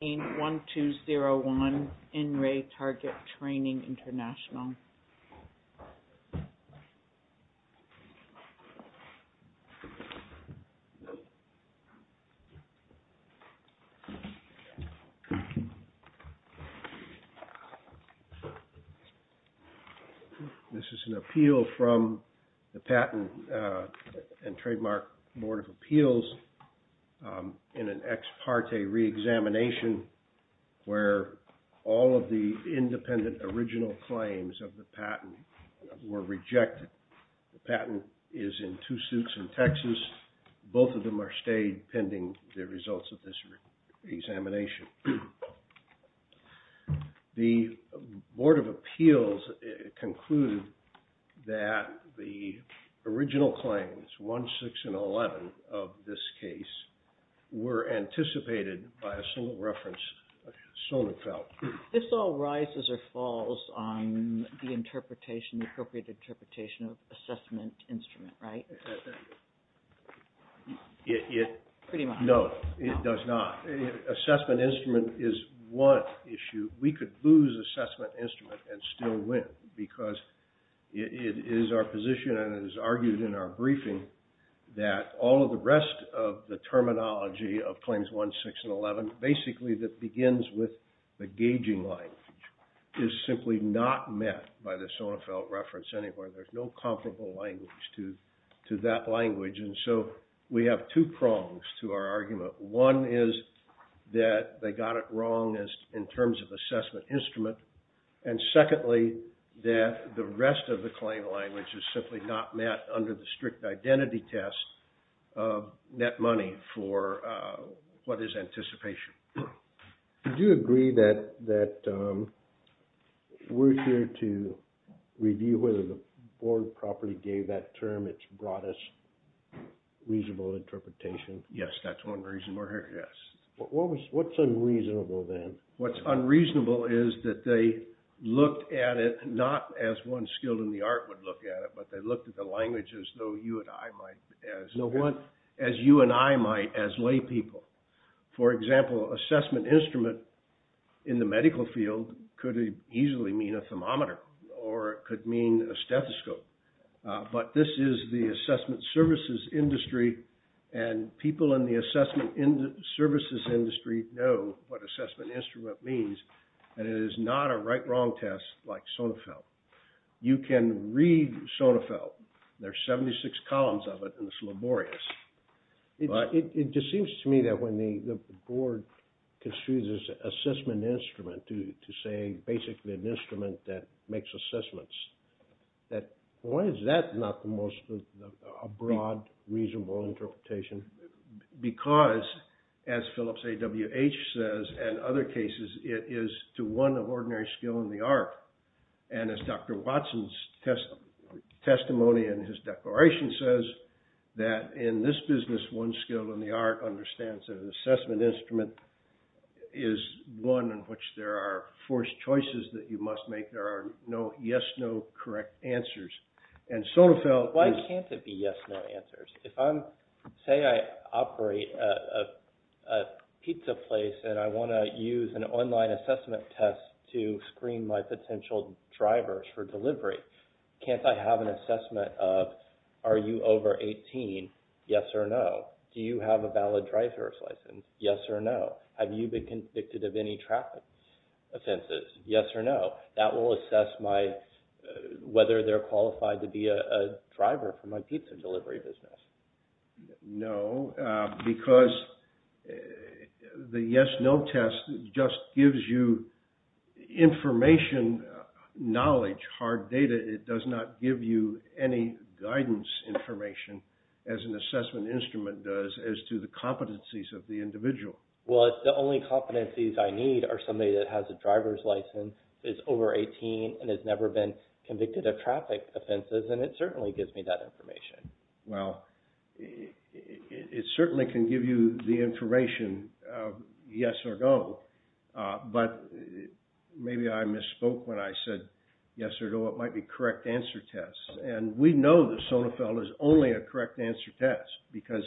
This is an appeal from the Patent and Trademark Board of Appeals in an ex parte re-examination where all of the independent original claims of the patent were rejected. The patent is in two suits in Texas. Both of them are stayed pending the results of this examination. The Board of Appeals concluded that the original claims, 1, 6, and 11 of this case were anticipated by a sole reference. This all rises or falls on the appropriate interpretation of assessment instrument, right? No, it does not. Assessment instrument is one issue. We could lose assessment instrument and still win because it is our position and it is argued in our briefing that all of the rest of the terminology of claims 1, 6, and 11, basically that begins with the gauging line, is simply not met by the Sonafelt reference anywhere. There is no comparable language to that language and so we have two prongs to our argument. One is that they got it wrong in terms of assessment instrument and secondly, that the rest of the claim language is simply not met under the strict identity test of net money for what is anticipation. Do you agree that we are here to review whether the board properly gave that term, its broadest reasonable interpretation? Yes, that is one reason we are here, yes. What is unreasonable then? What is unreasonable is that they looked at it not as one skilled in the art would look at it, but they looked at the language as though you and I might as lay people. For example, assessment instrument in the medical field could easily mean a thermometer or it could mean a stethoscope, but this is the assessment services industry and people in the assessment services industry know what assessment instrument means and it is not a right wrong test like Sonafelt. You can read Sonafelt, there are 76 columns of it and it is laborious. It just seems to me that when the board construed this assessment instrument to say basically an instrument that makes assessments, why is that not the most broad reasonable interpretation? Because as Phillips AWH says and other cases it is to one of ordinary skill in the art and as Dr. Watson's testimony in his declaration says that in this business one skilled in the art understands that an assessment instrument is one in which there are forced choices that you must make, there are no yes no correct answers. Why can't it be yes no answers? Say I operate a pizza place and I want to use an online assessment test to screen my potential drivers for delivery. Can't I have an assessment of are you over 18, yes or no? Do you have a valid driver's license, yes or no? Have you been convicted of any traffic offenses, yes or no? That will assess whether they are qualified to be a driver for my pizza delivery business. No, because the yes no test just gives you information, knowledge, hard data. It does not give you any guidance information as an assessment instrument does as to the competencies of the individual. Well, the only competencies I need are somebody that has a driver's license, is over 18 and has never been convicted of traffic offenses and it certainly gives me that information. Well, it certainly can give you the information yes or no, but maybe I misspoke when I said yes or no, it might be correct answer test. And we know that Sonnefeld is only a correct answer test because,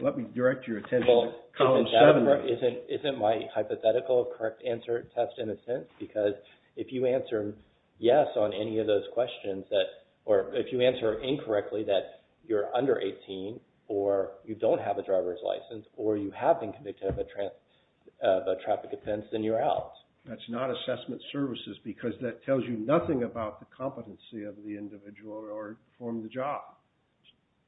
let me direct your attention to column 7. Well, isn't my hypothetical correct answer test in a sense because if you answer yes on any of those questions, or if you answer incorrectly that you're under 18 or you don't have a driver's license or you have been convicted of a traffic offense, then you're out. That's not assessment services because that tells you nothing about the competency of the individual or the job.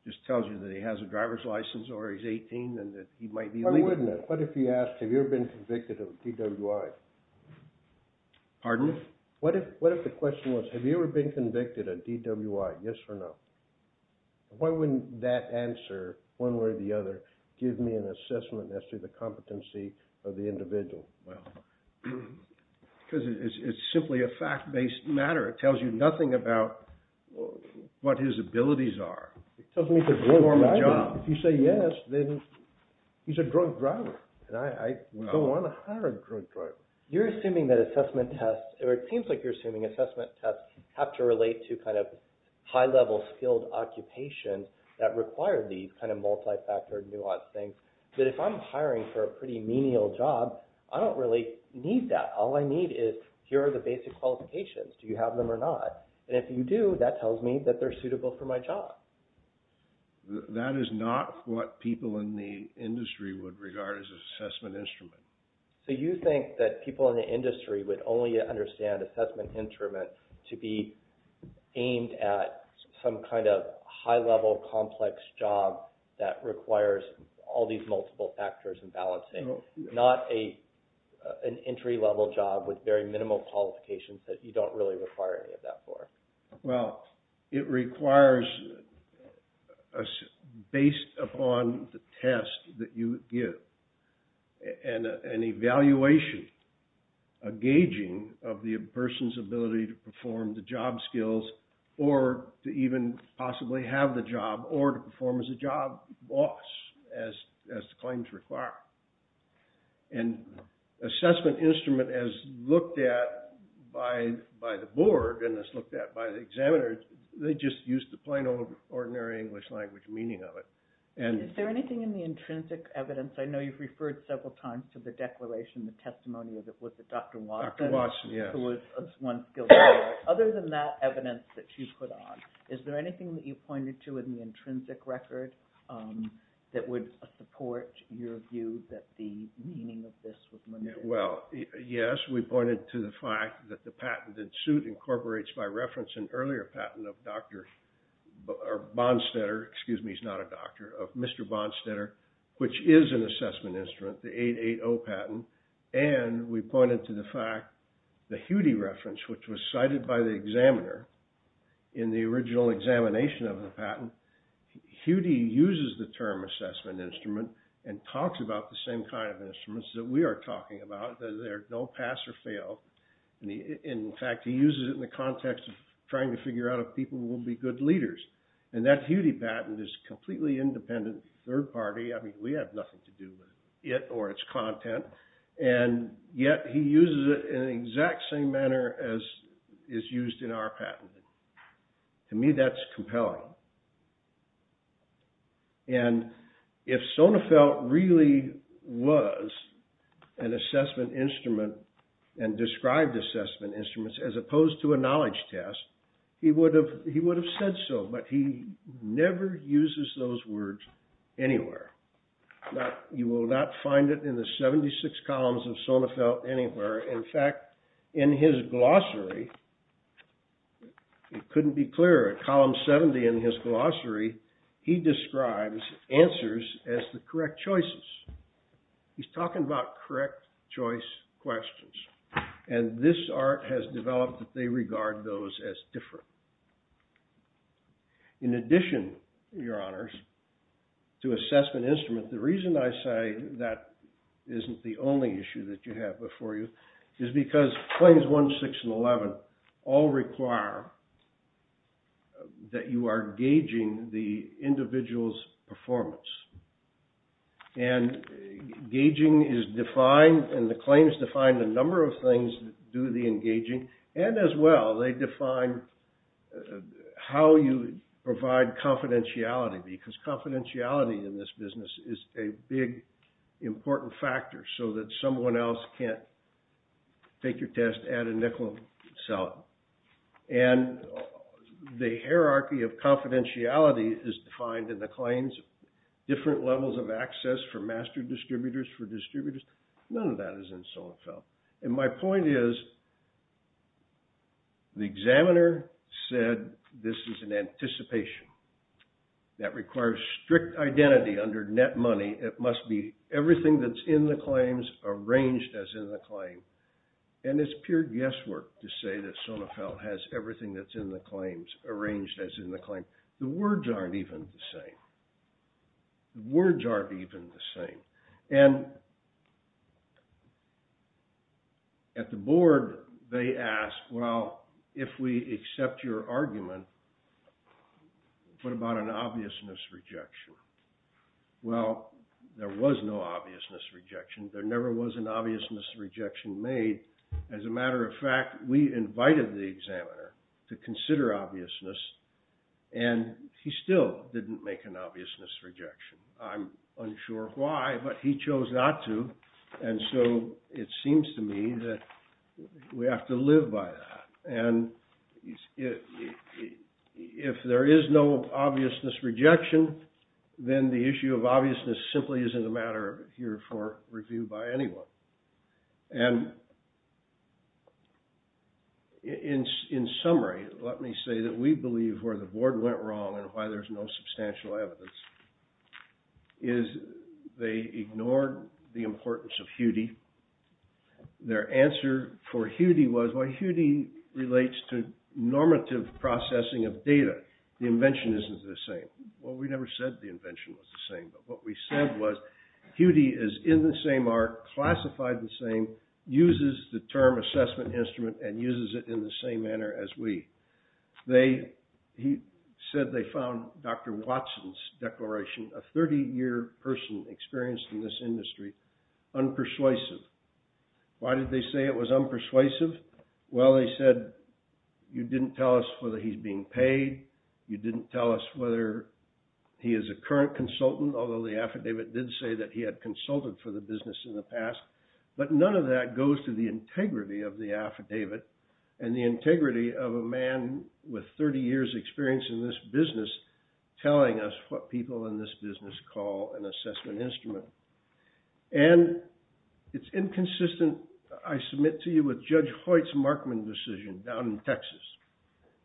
It just tells you that he has a driver's license or he's 18 and that he might be legal. Why wouldn't it? What if you asked, have you ever been convicted of DWI? Pardon? What if the question was, have you ever been convicted of DWI, yes or no? Why wouldn't that answer, one way or the other, give me an assessment as to the competency of the individual? Because it's simply a fact-based matter. It tells you nothing about what his abilities are. If you say yes, then he's a drunk driver. And I don't want to hire a drunk driver. You're assuming that assessment tests, or it seems like you're assuming assessment tests have to relate to kind of high-level skilled occupations that require these kind of multi-factor, nuanced things. But if I'm hiring for a pretty menial job, I don't really need that. All I need is, here are the basic qualifications. Do you have them or not? And if you do, that tells me that they're suitable for my job. That is not what people in the industry would regard as an assessment instrument. So you think that people in the industry would only understand assessment instrument to be aimed at some kind of high-level, complex job that requires all these multiple factors and balancing. Not an entry-level job with very minimal qualifications that you don't really require any of that for. Well, it requires, based upon the test that you give. And an evaluation, a gauging of the person's ability to perform the job skills, or to even possibly have the job, or to perform as a job boss, as the claims require. And assessment instrument, as looked at by the board, and as looked at by the examiners, they just use the plain old ordinary English language meaning of it. Is there anything in the intrinsic evidence? I know you've referred several times to the declaration, the testimony, was it Dr. Watson? Dr. Watson, yes. Who was once a skilled lawyer. Other than that evidence that you put on, is there anything that you pointed to in the intrinsic record that would support your view that the meaning of this was limited? Well, yes, we pointed to the fact that the patented suit incorporates, by reference, an earlier patent of Dr. Bonstetter, excuse me, he's not a doctor, of Mr. Bonstetter, which is an assessment instrument, the 880 patent. And we pointed to the fact, the Hudy reference, which was cited by the examiner in the original examination of the patent. Hudy uses the term assessment instrument and talks about the same kind of instruments that we are talking about, that they don't pass or fail. In fact, he uses it in the context of trying to figure out if people will be good leaders. And that Hudy patent is completely independent, third party. I mean, we have nothing to do with it or its content. And yet he uses it in the exact same manner as is used in our patent. To me, that's compelling. And if Sonafelt really was an assessment instrument and described assessment instruments as opposed to a knowledge test, he would have said so. But he never uses those words anywhere. You will not find it in the 76 columns of Sonafelt anywhere. In fact, in his glossary, it couldn't be clearer, at column 70 in his glossary, he describes answers as the correct choices. He's talking about correct choice questions. And this art has developed that they regard those as different. In addition, your honors, to assessment instrument, the reason I say that isn't the only issue that you have before you is because claims 1, 6, and 11 all require that you are gauging the individual's performance. And gauging is defined, and the claims define the number of things that do the engaging. And as well, they define how you provide confidentiality, because confidentiality in this business is a big, important factor so that someone else can't take your test, add a nickel, and sell it. And the hierarchy of confidentiality is defined in the claims. Different levels of access for master distributors, for distributors, none of that is in Sonafelt. And my point is, the examiner said this is an anticipation that requires strict identity under net money. It must be everything that's in the claims arranged as in the claim. And it's pure guesswork to say that Sonafelt has everything that's in the claims arranged as in the claim. The words aren't even the same. The words aren't even the same. And at the board, they ask, well, if we accept your argument, what about an obviousness rejection? Well, there was no obviousness rejection. There never was an obviousness rejection made. As a matter of fact, we invited the examiner to consider obviousness. And he still didn't make an obviousness rejection. I'm unsure why, but he chose not to. And so it seems to me that we have to live by that. And if there is no obviousness rejection, then the issue of obviousness simply isn't a matter here for review by anyone. And in summary, let me say that we believe where the board went wrong and why there's no substantial evidence is they ignored the importance of Hudi. Their answer for Hudi was, well, Hudi relates to normative processing of data. The invention isn't the same. Well, we never said the invention was the same. But what we said was, Hudi is in the same arc, classified the same, uses the term assessment instrument, and uses it in the same manner as we. He said they found Dr. Watson's declaration, a 30-year person experienced in this industry, unpersuasive. Why did they say it was unpersuasive? Well, they said, you didn't tell us whether he's being paid. You didn't tell us whether he is a current consultant, although the affidavit did say that he had consulted for the business in the past. But none of that goes to the integrity of the affidavit and the integrity of a man with 30 years' experience in this business telling us what people in this business call an assessment instrument. And it's inconsistent, I submit to you, with Judge Hoyt's Markman decision down in Texas,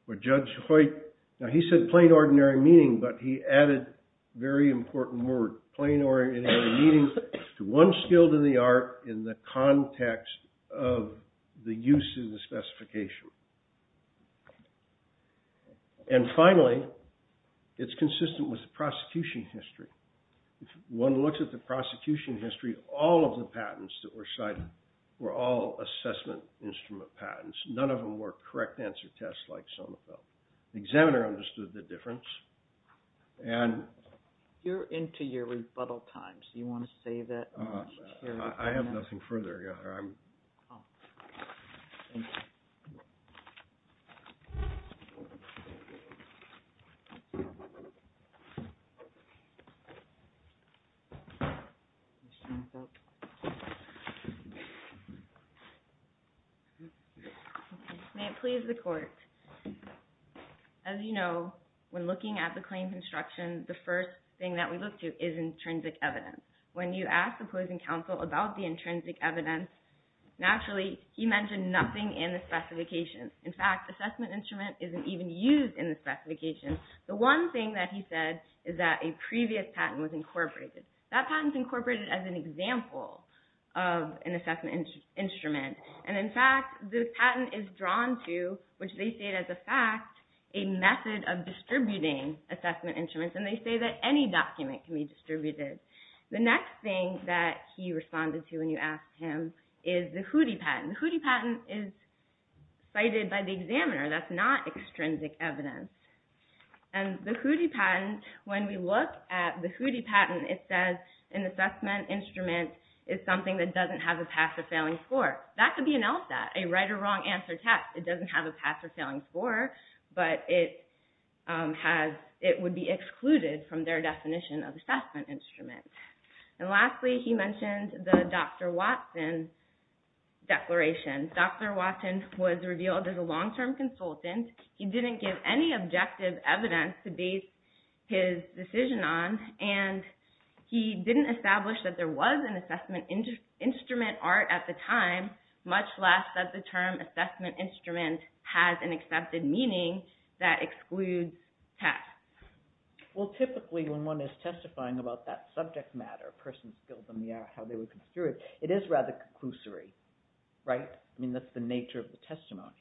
where Judge Hoyt, now he said plain, ordinary meaning, but he added very important word. Plain, ordinary meaning, to one skilled in the art in the context of the use of the specification. And finally, it's consistent with the prosecution history. If one looks at the prosecution history, all of the patents that were cited were all assessment instrument patents. None of them were correct answer tests like some of them. The examiner understood the difference. And you're into your rebuttal time. So you want to say that? I have nothing further. Yeah. May it please the court. As you know, when looking at the claims instruction, the first thing that we look to is intrinsic evidence. When you ask the opposing counsel about the intrinsic evidence, naturally, he mentioned nothing in the specification. In fact, assessment instrument isn't even used in the specification. The one thing that he said is that a previous patent was incorporated. That patent's incorporated as an example of an assessment instrument. And in fact, the patent is drawn to, which they state as a fact, a method of distributing assessment instruments. And they say that any document can be distributed. The next thing that he responded to when you asked him is the Hootie patent. The Hootie patent is cited by the examiner. That's not extrinsic evidence. And the Hootie patent, when we look at the Hootie patent, it says an assessment instrument is something that doesn't have a pass or failing score. That could be an LSAT, a right or wrong answer test. It doesn't have a pass or failing score, but it would be excluded from their definition of assessment instrument. And lastly, he mentioned the Dr. Watson declaration. Dr. Watson was revealed as a long-term consultant. He didn't give any objective evidence to base his decision on. And he didn't establish that there was an assessment instrument art at the time, much less that the term assessment instrument has an accepted meaning that excludes pass. Well, typically, when one is testifying about that subject matter, a person's skills and how they would go through it, it is rather conclusory, right? I mean, that's the nature of the testimony.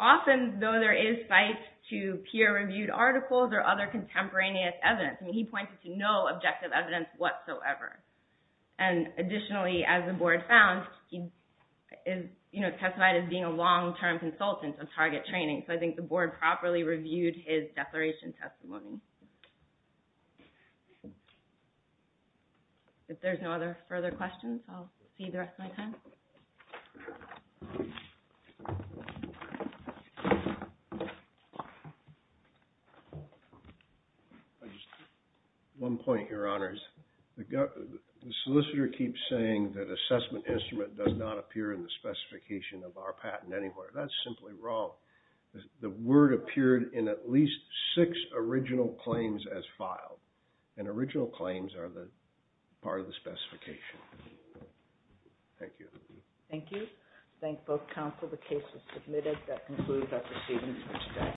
Often, though, there is fight to peer-reviewed articles or other contemporaneous evidence. I mean, he pointed to no objective evidence whatsoever. And additionally, as the board found, he testified as being a long-term consultant of target training. So I think the board properly reviewed his declaration testimony. If there's no other further questions, I'll see you the rest of my time. I just have one point, Your Honors. The solicitor keeps saying that assessment instrument does not appear in the specification of our patent anywhere. That's simply wrong. The word appeared in at least six original claims as filed. And original claims are the part of the specification. Thank you. Thank you. Thank you. Thank both counsel. The case is submitted. That concludes our proceedings for today.